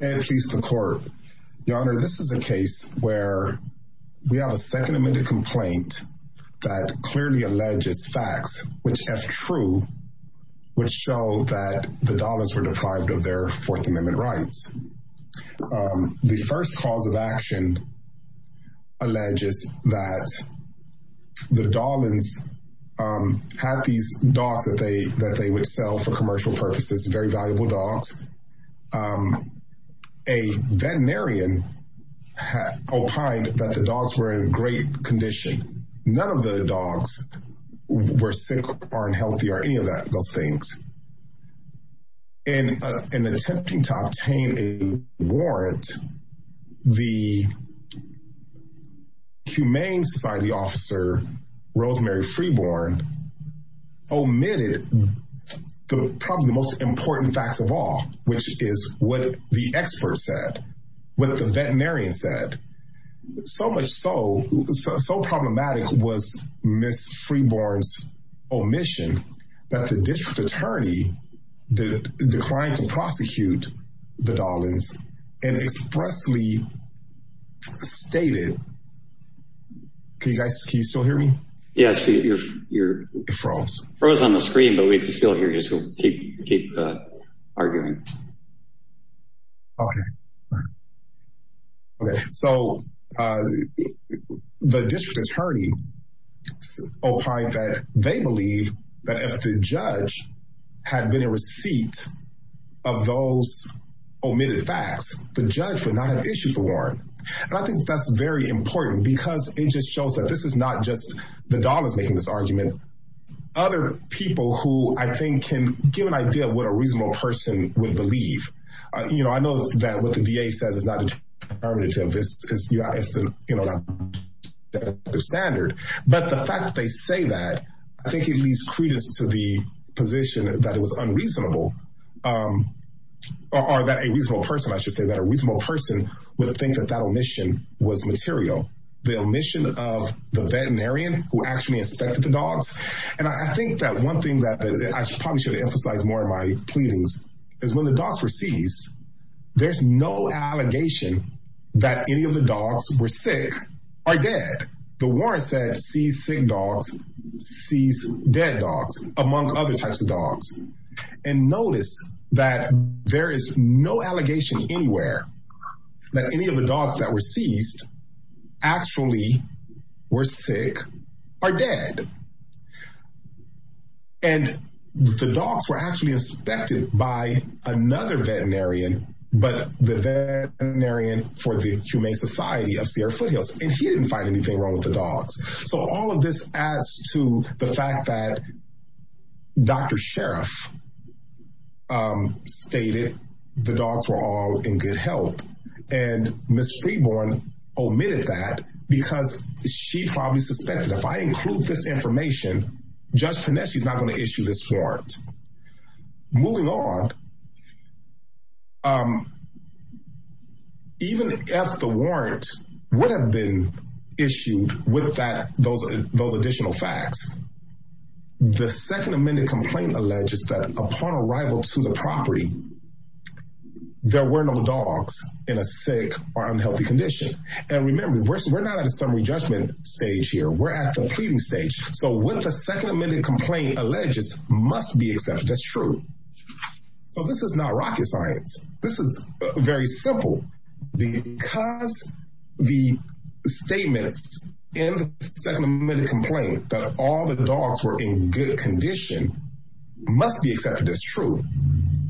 Ed, Peace the Court. Your Honor, this is a case where we have a second amended complaint that clearly alleges facts which, if true, would show that the Dahlins were deprived of their Fourth Amendment rights. The first cause of action alleges that the Dahlins had these dogs that they that they would sell for commercial purposes, very valuable dogs. A veterinarian opined that the dogs were in great condition. None of the dogs were sick or unhealthy or any of that those things. In attempting to obtain a warrant, the Humane Society officer, Rosemary Frieborn, omitted probably the most important facts of all, which is what the expert said, what the veterinarian said. So much so, so problematic was Ms. Frieborn's omission that the District Attorney declined to prosecute the Dahlins and expressly stated, can you guys still hear me? Yes, you're frozen on the screen but we can still hear you so keep arguing. Okay, so the District Attorney opined that they believe that if the judge had been in receipt of those omitted facts, the judge would not have issued the warrant. And I think that's very important because it just shows that this is not just the Dahlins making this argument, other people who I think can give an idea of what a reasonable person would believe. You know, I know that what the VA says is not determinative, it's not their standard, but the fact they say that, I was unreasonable, or that a reasonable person, I should say that a reasonable person would think that that omission was material. The omission of the veterinarian who actually inspected the dogs, and I think that one thing that I probably should emphasize more in my pleadings is when the dogs were seized, there's no allegation that any of the dogs were sick or dead. The warrant said seized sick dogs, seized dead dogs, among other types of dogs. And notice that there is no allegation anywhere that any of the dogs that were seized actually were sick or dead. And the dogs were actually inspected by another veterinarian, but the veterinarian for the Humane Society of Sierra Foothills, and he didn't find anything wrong with the dogs. So all of this adds to the fact that Dr. Sheriff stated the dogs were all in good health, and Ms. Streborn omitted that because she probably suspected, if I include this information, Judge Panetti's not going to issue with that those additional facts. The Second Amendment complaint alleges that upon arrival to the property, there were no dogs in a sick or unhealthy condition. And remember, we're not at a summary judgment stage here, we're at the pleading stage. So what the Second Amendment complaint alleges must be accepted, that's true. So this is not rocket science, this is very simple. Because the statements in the Second Amendment complaint that all the dogs were in good condition must be accepted as true.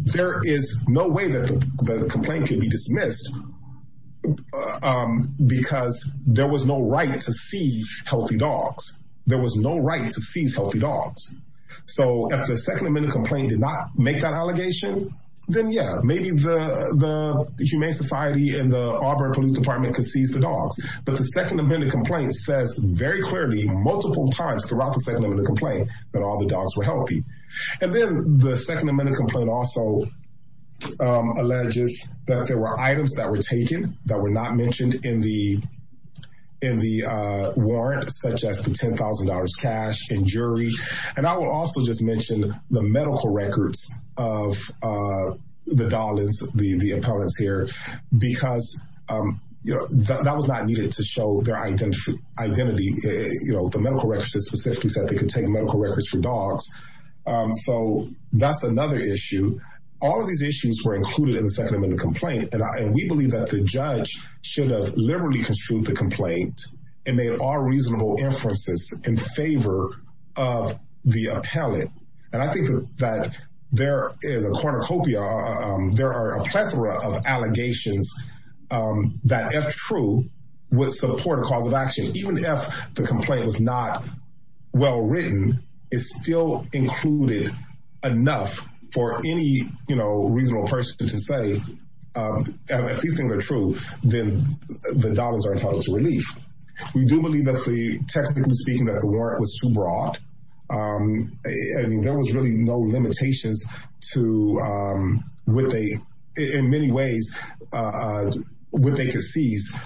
There is no way that the complaint can be dismissed because there was no right to seize healthy dogs. There was no right to seize healthy dogs. So if the Second Amendment complaint did not make that in the Auburn Police Department could seize the dogs. But the Second Amendment complaint says very clearly multiple times throughout the Second Amendment complaint that all the dogs were healthy. And then the Second Amendment complaint also alleges that there were items that were taken that were not mentioned in the in the warrant, such as the $10,000 cash and jury. And I will also just because that was not needed to show their identity. You know, the medical records specifically said they could take medical records for dogs. So that's another issue. All of these issues were included in the Second Amendment complaint. And we believe that the judge should have liberally construed the complaint and made all reasonable inferences in favor of the appellate. And I think that there is a cornucopia, there are a plethora of allegations that if true, would support a cause of action, even if the complaint was not well written, is still included enough for any, you know, reasonable person to say, if these things are true, then the dogs are entitled to relief. We do there was really no limitations to what they, in many ways, what they could seize.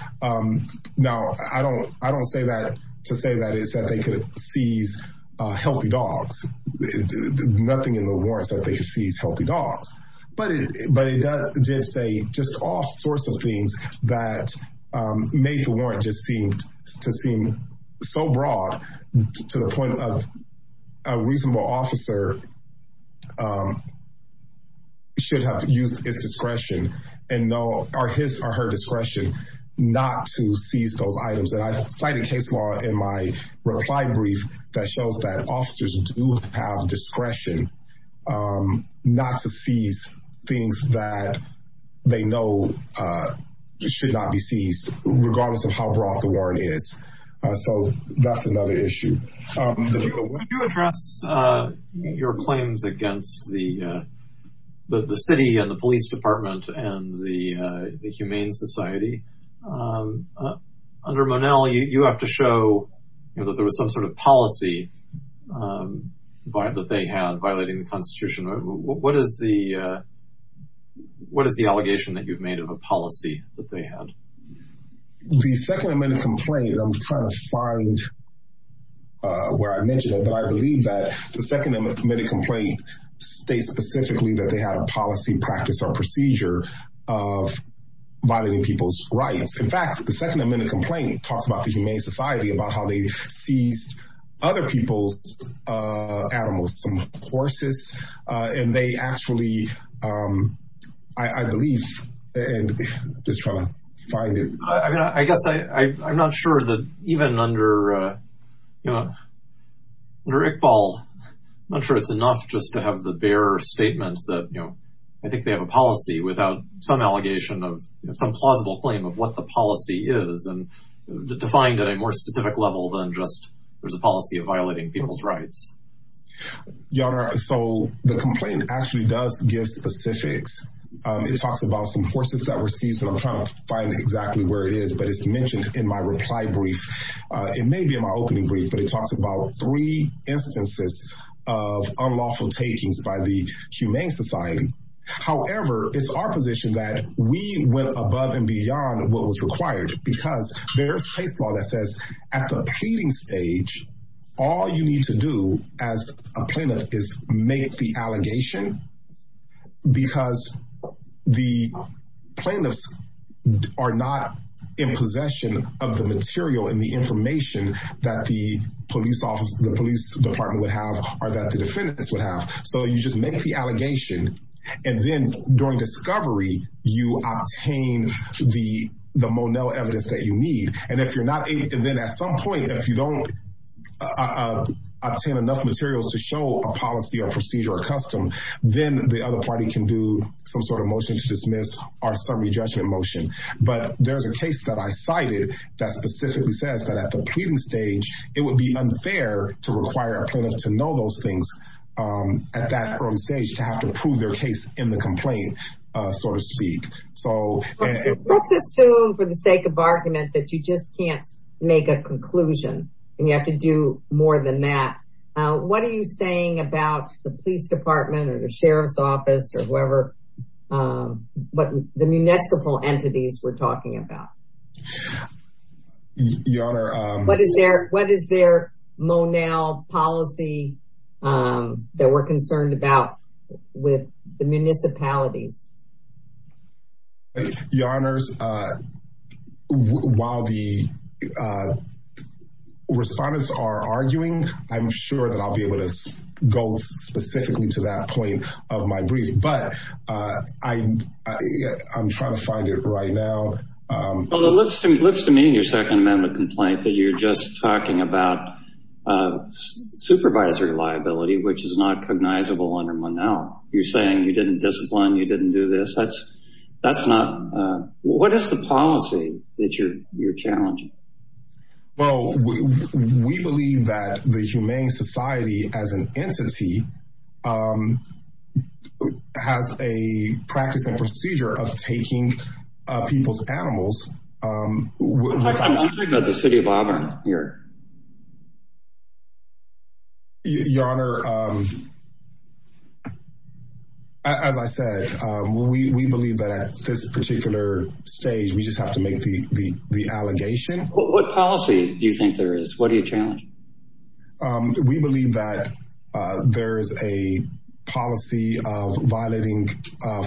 Now, I don't I don't say that to say that is that they could seize healthy dogs, nothing in the warrants that they could seize healthy dogs. But it but it does just say just all sorts of things that made the warrant just to seem so broad to the point of a reasonable officer should have used his discretion and know or his or her discretion not to seize those items. And I cited case law in my reply brief that shows that officers do have discretion not to seize things that they know should not be seized, regardless of how broad the warrant is. So that's another issue. Could you address your claims against the city and the police department and the humane society? Under Monell, you have to show that there was some sort of policy that they had violating the constitution. What is the allegation that you've made of a policy that they had? The second amendment complaint, I'm trying to find where I mentioned it, but I believe that the second amendment complaint states specifically that they had a policy practice or procedure of violating people's rights. In fact, the second amendment complaint talks about the humane society, about how they seized other people's animals, some horses, and they actually, I believe, and I'm just trying to find it. I mean, I guess I'm not sure that even under Iqbal, I'm not sure it's enough just to have the bare statement that, you know, I think they have a policy without some allegation of some plausible claim of what the policy is, and defined at a more specific level than just there's a policy of violating people's rights. Your Honor, so the complaint actually does give specifics. It talks about some horses that were seized, and I'm trying to find exactly where it is, but it's mentioned in my reply brief. It may be in my opening brief, but it talks about three instances of unlawful takings by the humane society. However, it's our position that we went above and beyond what was required because there's case law that says at the pleading stage, all you need to do as a plaintiff is make the allegation because the plaintiffs are not in possession of the material and the information that the police department would have or that the defendants would have, so you just make the allegation. And then during discovery, you obtain the Monell evidence that you need. And if you're not able to, then at some point, if you don't obtain enough materials to show a policy or procedure or custom, then the other party can do some sort of motion to dismiss or summary judgment motion, but there's a case that I cited that specifically says that at the pleading stage, it would be unfair to require a plaintiff to know those things at that early stage to have to prove their case in the complaint, so to speak. So let's assume for the sake of argument that you just can't make a conclusion and you have to do more than that. What are you saying about the police department or the sheriff's office or whoever, what the municipal entities were talking about, what is their Monell policy that we're concerned about with the municipalities? Your honors, while the respondents are arguing, I'm sure that I'll be able to go specifically to that point of my brief, but I'm trying to find it right now. Well, it looks to me in your second amendment complaint that you're just talking about supervisory liability, which is not cognizable under Monell. You're saying you didn't discipline, you didn't do this. That's not, what is the policy that you're challenging? Well, we believe that the humane society as an entity has a practice and procedure of taking people's animals. I'm wondering about the city of Auburn here. Your honor, as I said, we believe that at this particular stage, we just have to make the allegation. What policy do you think there is? What do you challenge? We believe that there is a policy of violating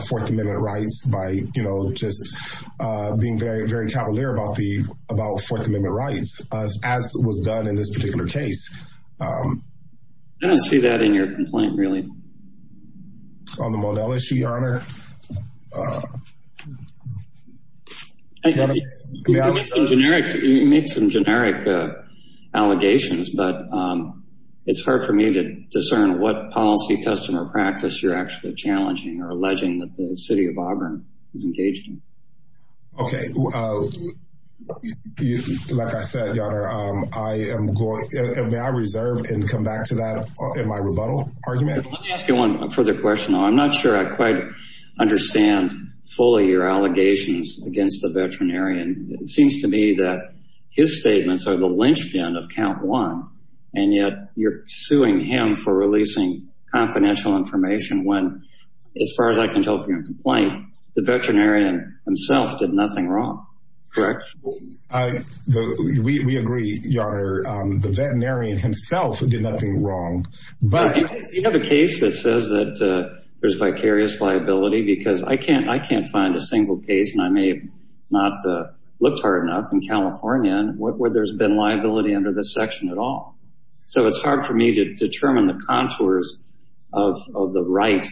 fourth amendment rights by, you know, just being very, very cavalier about the, about fourth amendment rights, as was done in this particular case. I don't see that in your complaint, really. On the Monell issue, your honor? You make some generic allegations, but it's hard for me to discern what policy, custom, or practice you're actually challenging or alleging that the city of Auburn is engaged in. Okay. Like I said, your honor, I am going, may I reserve and come back to that in my rebuttal argument? Let me ask you one further question though. I'm not sure I quite understand fully your allegations against the veterinarian. It seems to me that his statements are the lynchpin of count one, and yet you're suing him for releasing confidential information when, as far as I can tell from your complaint, the veterinarian himself did nothing wrong, correct? We agree, your honor. The veterinarian himself did nothing wrong, but- Do you have a case that says that there's vicarious liability? Because I can't, I can't find a single case, and I may have not looked hard enough in California, where there's been liability under this section at all. So it's hard for me to determine the contours of, of the right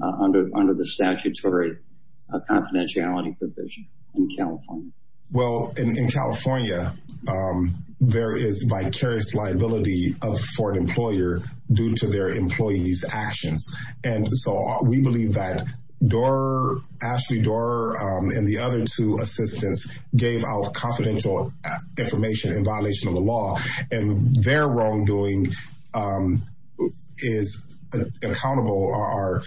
under, under the statutory confidentiality provision in California. Well, in California, there is vicarious liability for an employer due to their employee's actions. And so we believe that Doar, Ashley Doar, and the other two assistants gave out confidential information in violation of the law. And their wrongdoing is accountable, or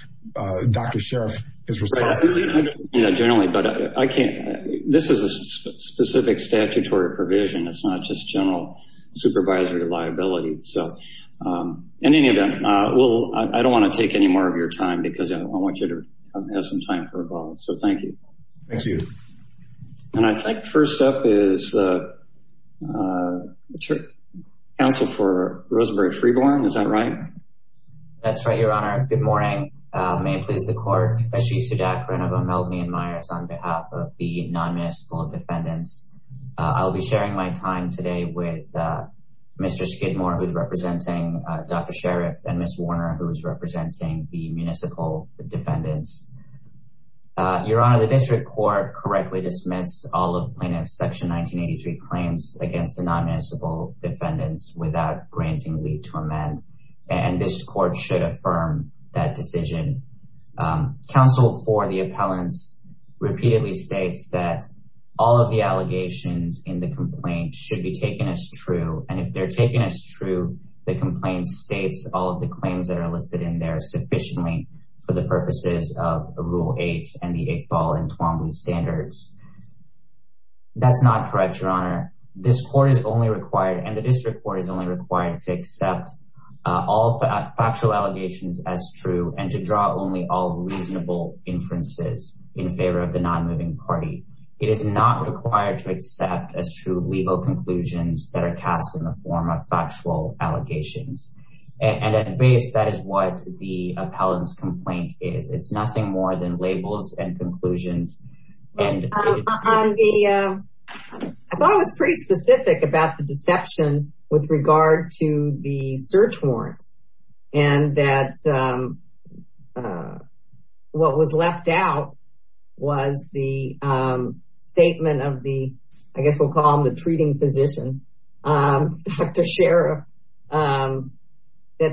Dr. Sheriff is responsible. I don't know, generally, but I can't, this is a specific statutory provision. It's not just general supervisory liability. So in any event, I don't want to take any more of your time because I want you to have some time for a moment. So thank you. Thank you. And I think first up is the counsel for Rosenberg-Freeborn, is that right? That's right, Your Honor. Good morning. May it please the court, Ashish Sudhakaran of O'Melveny and Myers on behalf of the non-municipal defendants. I'll be sharing my time today with Mr. Skidmore, who's representing Dr. Sheriff, and Ms. Warner, who is representing the municipal defendants. Your Honor, the district court correctly dismissed all of plaintiff's section 1983 claims against the non-municipal defendants without granting leave to amend, and this court should affirm that decision. Counsel for the appellants repeatedly states that all of the allegations in the complaint should be taken as true. And if they're taken as true, the complaint states all of the claims that are listed in there sufficiently for the purposes of rule eight and the Iqbal and Toowoomba standards. That's not correct, Your Honor. This court is only required, and the district court is only required to accept all factual allegations as true and to draw only all reasonable inferences in favor of the non-moving party. It is not required to accept as true legal conclusions that are cast in the form of factual allegations. And at base, that is what the appellant's complaint is. It's nothing more than labels and conclusions. I thought it was pretty specific about the deception with regard to the search warrant and that what was left out was the statement of the, I guess we'll call him the treating physician, Dr. Sheriff, that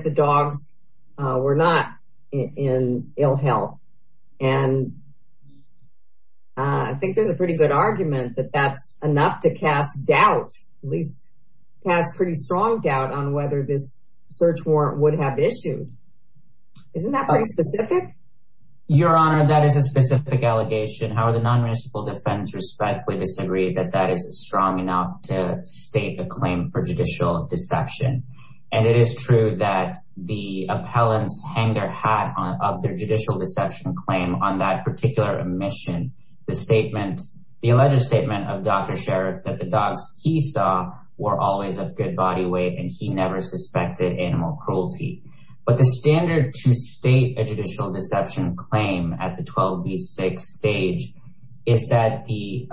the dogs were not in ill health. And I think there's a pretty good argument that that's enough to cast doubt, at least cast pretty strong doubt on whether this search warrant would have issued, isn't that pretty specific? Your Honor, that is a specific allegation. However, the non-municipal defense respectfully disagree that that is strong enough to state a claim for judicial deception. And it is true that the appellants hang their hat on, of their judicial deception claim on that particular omission, the statement, the alleged statement of Dr. Sheriff that the dogs he saw were always of good body weight and he never suspected animal cruelty. But the standard to state a judicial deception claim at the 12B6 stage is that the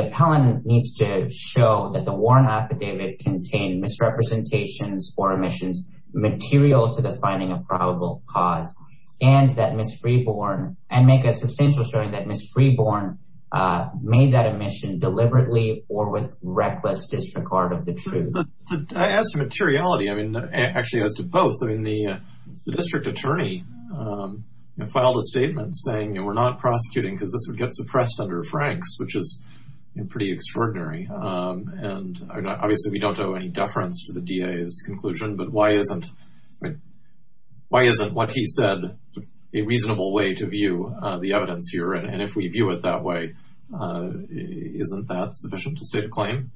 appellant needs to show that the warrant affidavit contained misrepresentations or omissions material to the finding of probable cause. And that Ms. Freeborn, and make a substantial showing that Ms. Freeborn made that omission deliberately or with reckless disregard of the truth. As to materiality, I mean, actually as to both, I mean, the district attorney filed a statement saying, you know, we're not prosecuting because this would get suppressed under Frank's, which is pretty extraordinary. And obviously we don't owe any deference to the DA's conclusion, but why isn't, why isn't what he said a reasonable way to view the evidence here? And if we view it that way, isn't that sufficient to state a claim?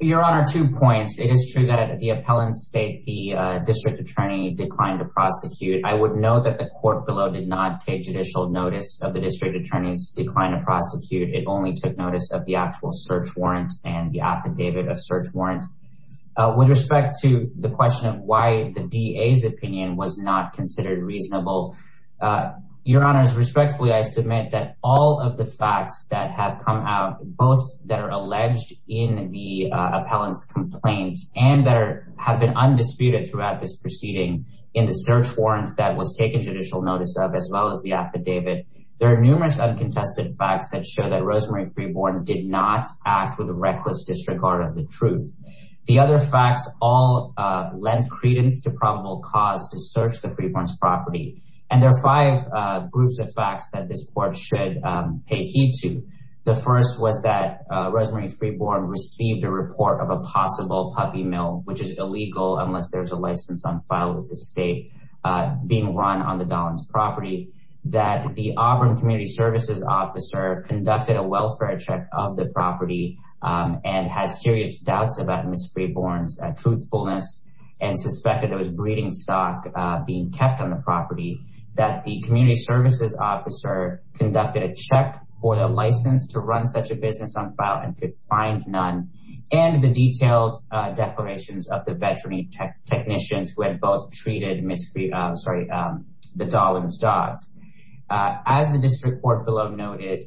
Your Honor, two points. It is true that the appellant state, the district attorney declined to prosecute. I would note that the court below did not take judicial notice of the district attorney's decline to prosecute. It only took notice of the actual search warrant and the affidavit of search warrant with respect to the question of why the DA's opinion was not considered reasonable. Your Honor, respectfully, I submit that all of the facts that have come out, both that are alleged in the appellant's complaints and that are, have been undisputed throughout this proceeding in the search warrant that was taken judicial notice of, as well as the affidavit. There are numerous uncontested facts that show that Rosemary Freeborn did not act with a reckless disregard of the truth. The other facts all lend credence to probable cause to search the Freeborn's property. And there are five groups of facts that this court should pay heed to. The first was that Rosemary Freeborn received a report of a possible puppy mill, which is illegal unless there's a license on file with the state being run on the Don's property, that the Auburn community services officer conducted a welfare check of the property and has serious doubts about Ms. Freeborn's truthfulness and suspected it was breeding stock being kept on the property, that the community services officer conducted a check for the license to run such a business on file and could find none. And the detailed declarations of the veterinary technicians who had both treated Ms. Freeborn's, sorry, the Dolan's dogs. As the district court below noted,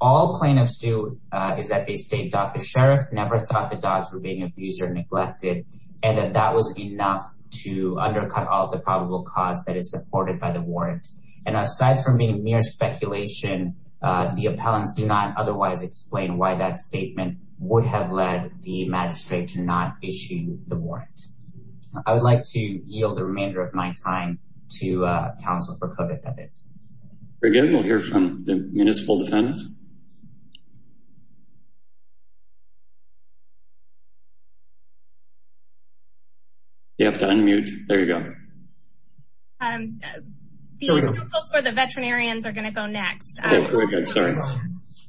all plaintiffs do is that they state Dr. Sheriff never thought the dogs were being abused or neglected, and that that was enough to undercut all the probable cause that is supported by the warrant. And asides from being mere speculation, the appellants do not otherwise explain why that statement would have led the magistrate to not issue the warrant. I would like to yield the remainder of my time to counsel for COVID evidence. Very good. We'll hear from the municipal defendants. You have to unmute. There you go. Um, the approval for the veterinarians are going to go next.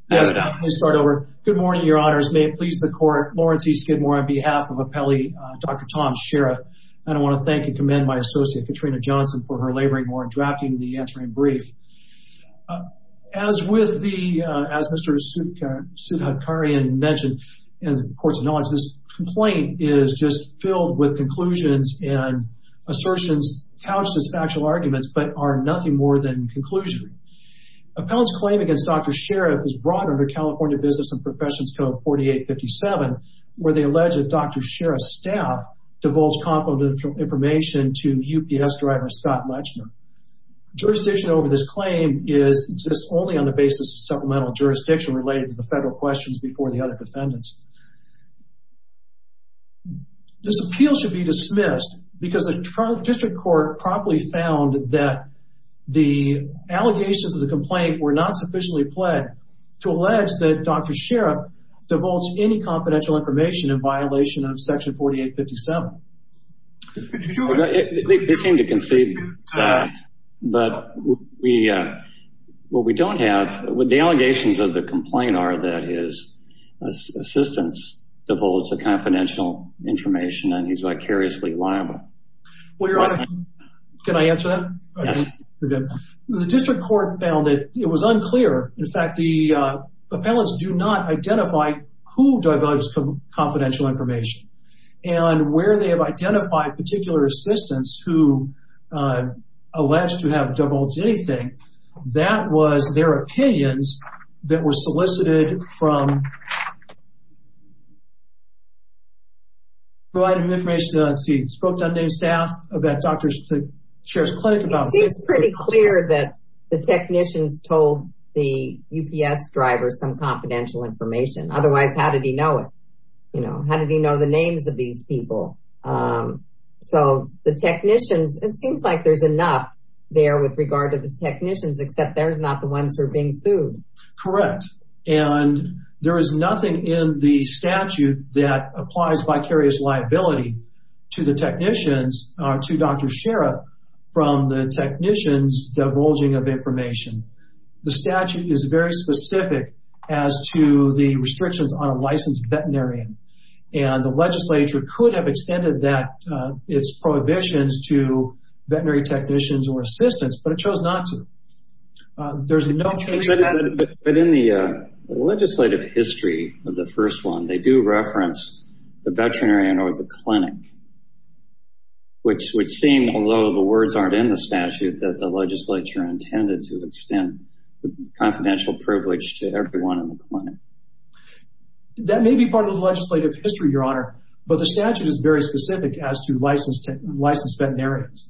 Yes, please start over. Good morning, your honors. May it please the court. Lawrence E. Skidmore on behalf of appellee Dr. Tom Sheriff. And I want to thank and commend my associate Katrina Johnson for her laboring warrant, drafting the answering brief. As with the, as Mr. Sudhakarian mentioned in the courts of knowledge, this complaint is just filled with conclusions and assertions couched as factual arguments, but are nothing more than conclusionary. Appellant's claim against Dr. Sheriff is brought under California Business and Professions Code 4857. Where they allege that Dr. Sheriff's staff divulged confidential information to UPS driver, Scott Mutchner. Jurisdiction over this claim is, exists only on the basis of supplemental jurisdiction related to the federal questions before the other defendants. This appeal should be dismissed because the district court promptly found that the allegations of the complaint were not sufficiently pledged to allege that Dr. Sheriff's staff divulged confidential information in violation of section 4857. They seem to concede that, but we, what we don't have, the allegations of the complaint are that his assistants divulged the confidential information and he's vicariously liable. Well, your honor, can I answer that? The district court found that it was unclear, in fact, the appellants do not identify who divulged confidential information and where they have identified particular assistants who alleged to have divulged anything, that was their opinions that were solicited from, provided information, let's see, spoke to undamaged staff that Dr. Sheriff's clinic about. It seems pretty clear that the technicians told the UPS driver some information, otherwise, how did he know it? You know, how did he know the names of these people? So the technicians, it seems like there's enough there with regard to the technicians, except they're not the ones who are being sued. Correct. And there is nothing in the statute that applies vicarious liability to the technicians or to Dr. Sheriff from the technicians divulging of information. The statute is very specific as to the restrictions on a licensed veterinarian. And the legislature could have extended that, its prohibitions to veterinary technicians or assistants, but it chose not to. There's no case- But in the legislative history of the first one, they do reference the veterinarian or the clinic, which would seem, although the words aren't in the confidential privilege to everyone in the clinic. That may be part of the legislative history, Your Honor, but the statute is very specific as to licensed veterinarians.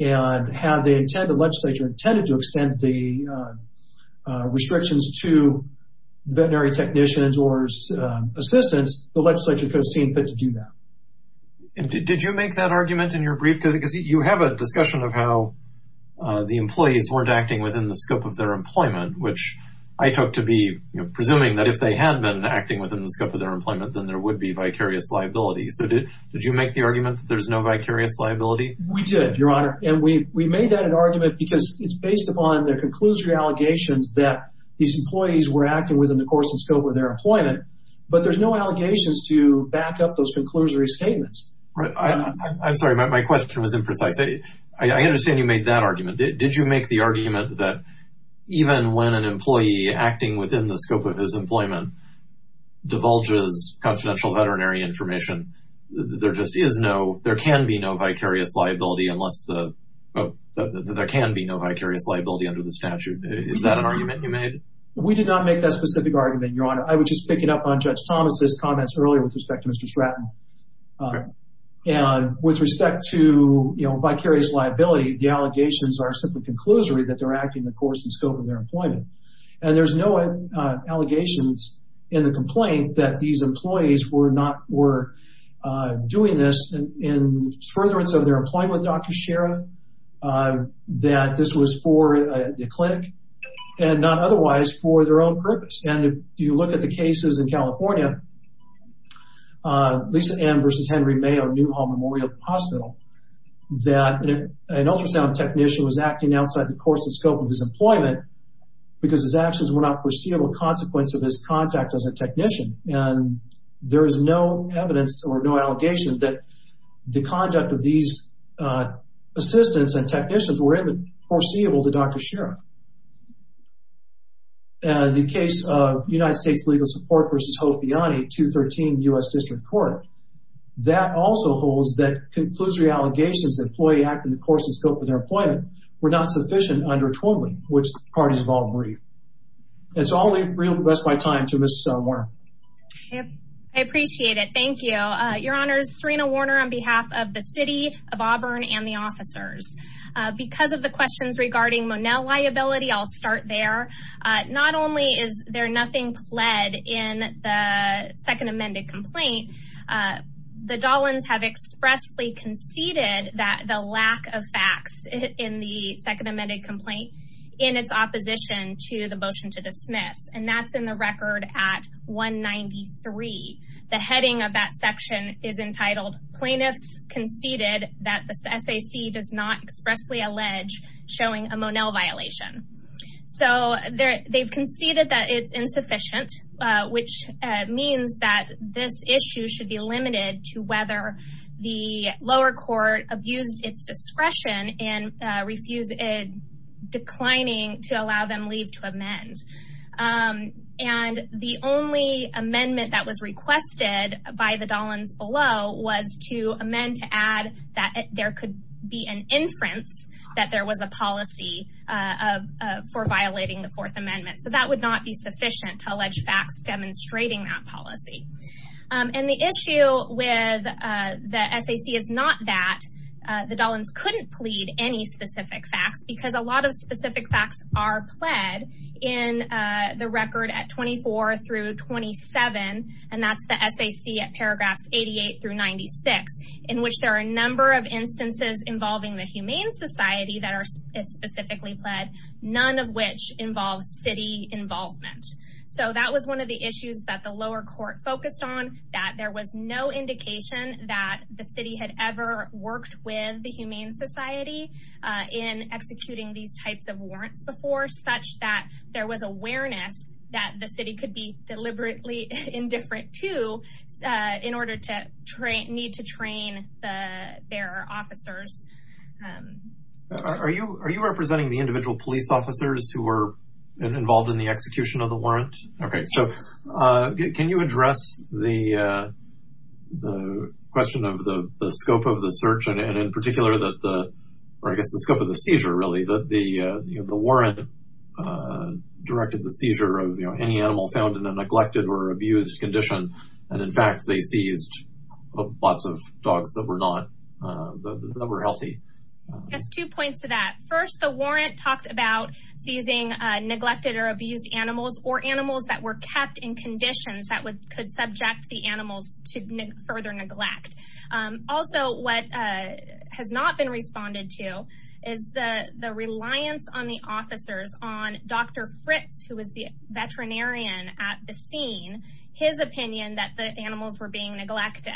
And had the intended legislature intended to extend the restrictions to veterinary technicians or assistants, the legislature could have seen fit to do that. And did you make that argument in your brief? Because you have a discussion of how the employees weren't acting within the scope of their employment, which I took to be presuming that if they had been acting within the scope of their employment, then there would be vicarious liability. So did you make the argument that there's no vicarious liability? We did, Your Honor. And we made that an argument because it's based upon the conclusory allegations that these employees were acting within the course and scope of their employment, but there's no allegations to back up those conclusory statements. I'm sorry, my question was imprecise. I understand you made that argument. Did you make the argument that even when an employee acting within the scope of his employment divulges confidential veterinary information, there just is no, there can be no vicarious liability unless the, there can be no vicarious liability under the statute. Is that an argument you made? We did not make that specific argument, Your Honor. I would just pick it up on Judge Thomas's comments earlier with respect to Mr. Stratton. And with respect to, you know, vicarious liability, the allegations are simply conclusory that they're acting in the course and scope of their employment. And there's no allegations in the complaint that these employees were not, were doing this in furtherance of their employment, Dr. Sheriff, that this was for the clinic and not otherwise for their own purpose. And if you look at the cases in California, Lisa M. versus Henry Mayo Newhall Memorial Hospital, that an ultrasound technician was acting outside the course and scope of his employment because his actions were not foreseeable consequence of his contact as a technician. And there is no evidence or no allegation that the conduct of these assistants and technicians were foreseeable to Dr. Sheriff. The case of United States Legal Support versus Hopiani, 213 U.S. District Court, that also holds that conclusory allegations that employee acting in the course and scope of their employment were not sufficient under Twombly, which the parties involved agree. That's all the real, that's my time to Ms. Warner. I appreciate it. Thank you, Your Honors. Serena Warner on behalf of the City of Auburn and the officers. Because of the questions regarding Monell liability, I'll start there. Not only is there nothing pled in the second amended complaint, the Dollins have expressly conceded that the lack of facts in the second amended complaint in its opposition to the motion to dismiss. And that's in the record at 193. The heading of that section is entitled plaintiffs conceded that the SAC does not expressly allege showing a Monell violation. So they've conceded that it's insufficient, which means that this issue should be limited to whether the lower court abused its discretion and refused declining to allow them leave to amend. And the only amendment that was requested by the Dollins below was to amend to add that there could be an inference that there was a policy for violating the fourth amendment, so that would not be sufficient to allege facts demonstrating that policy and the issue with the SAC is not that the Dollins couldn't plead any specific facts because a lot of specific facts are pled in the record at 24 through 27, and that's the SAC at paragraphs 88 through 96, in which there are a number of instances involving the humane society that are specifically pled, none of which involves city involvement. So that was one of the issues that the lower court focused on, that there was no indication that the city had ever worked with the humane society in executing these deliberately indifferent to, in order to need to train their officers. Are you representing the individual police officers who were involved in the execution of the warrant? Okay, so can you address the question of the scope of the search and in particular, that the, or I guess the scope of the seizure, really, that the warrant directed the seizure of any animal found in a neglected or abused condition. And in fact, they seized lots of dogs that were not, that were healthy. That's two points to that. First, the warrant talked about seizing neglected or abused animals or animals that were kept in conditions that could subject the animals to further neglect. Also, what has not been responded to is the reliance on the officers, on Dr. Fritz, who was the veterinarian at the scene, his opinion that the animals were being neglected.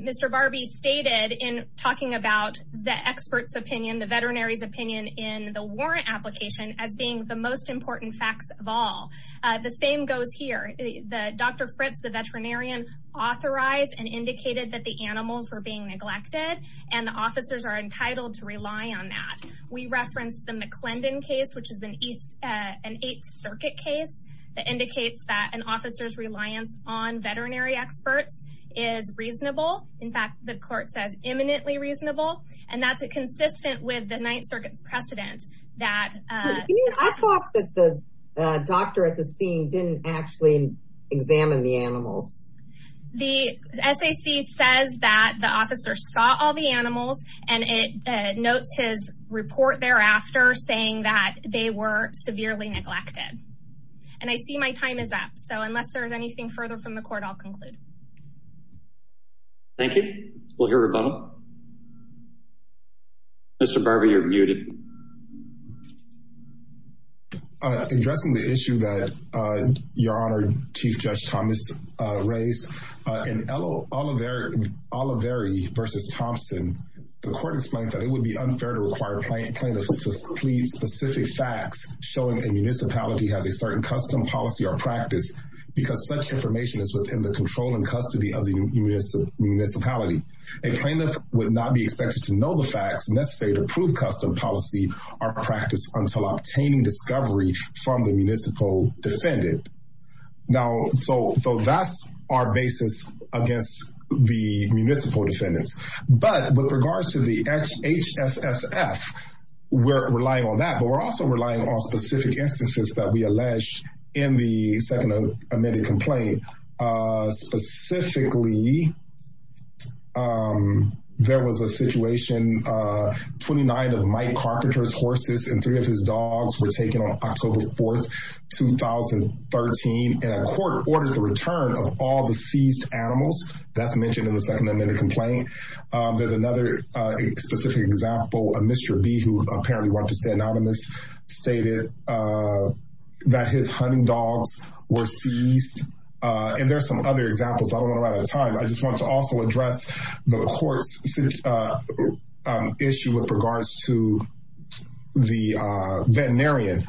Mr. Barbie stated in talking about the expert's opinion, the veterinarian's opinion in the warrant application as being the most important facts of all. The same goes here. The Dr. Fritz, the veterinarian authorized and indicated that the animals were being neglected and the officers are entitled to rely on that. We referenced the McClendon case, which is an eighth circuit case that indicates that an officer's reliance on veterinary experts is reasonable. In fact, the court says imminently reasonable, and that's a consistent with the Ninth Circuit's precedent that, I thought that the doctor at the scene didn't actually examine the animals. The SAC says that the officer saw all the animals and it notes his report thereafter saying that they were severely neglected. And I see my time is up. So unless there's anything further from the court, I'll conclude. Thank you. We'll hear a rebuttal. Mr. Barbie, you're muted. Addressing the issue that your honor, Chief Judge Thomas raised, in Oliveri versus Thompson, the court explained that it would be unfair to require plaintiffs to plead specific facts showing a municipality has a certain custom policy or practice because such information is within the control and custody of the municipality. A plaintiff would not be expected to know the facts necessary to prove custom policy or practice until obtaining discovery from the municipal defendant. Now, so that's our basis against the municipal defendants, but with regards to the HSSF, we're relying on that, but we're also relying on specific instances that we allege in the second amended complaint, specifically, there was a situation, 29 of Mike Carpenter's horses and three of his dogs were taken on October 4th, 2013, and a court ordered the return of all the seized animals. That's mentioned in the second amended complaint. There's another specific example of Mr. B, who apparently wanted to stay anonymous, stated that his hunting dogs were seized, and there's some other examples. I don't want to run out of time. I just want to also address the court's issue with regards to the veterinarian.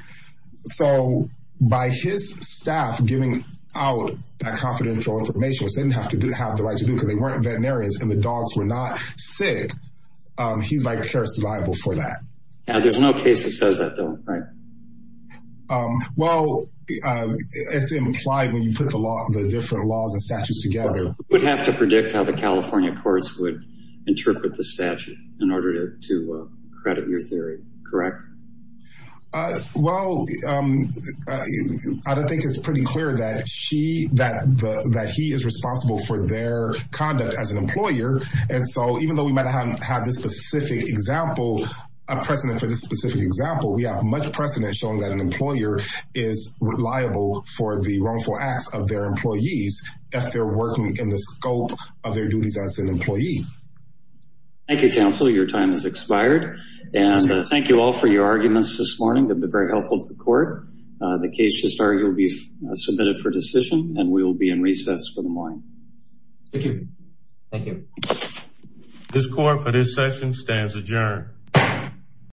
So by his staff giving out that confidential information, which they didn't have to do, have the right to do because they weren't veterinarians and the dogs were not sick, he's like a survivor for that. Now, there's no case that says that though, right? Well, it's implied when you put the laws, the different laws and statutes together. You would have to predict how the California courts would interpret the statute in order to credit your theory, correct? Well, I don't think it's pretty clear that she, that he is responsible for their conduct as an employer, and so even though we might have this specific example, a precedent for this specific example, we have much precedent showing that an employer is reliable for the wrongful acts of their employees if they're working in the scope of their duties as an employee. Thank you, counsel. Your time has expired and thank you all for your arguments this morning. They've been very helpful to the court. The case will be submitted for decision and we will be in recess for the morning. Thank you. Thank you. This court for this session stands adjourned.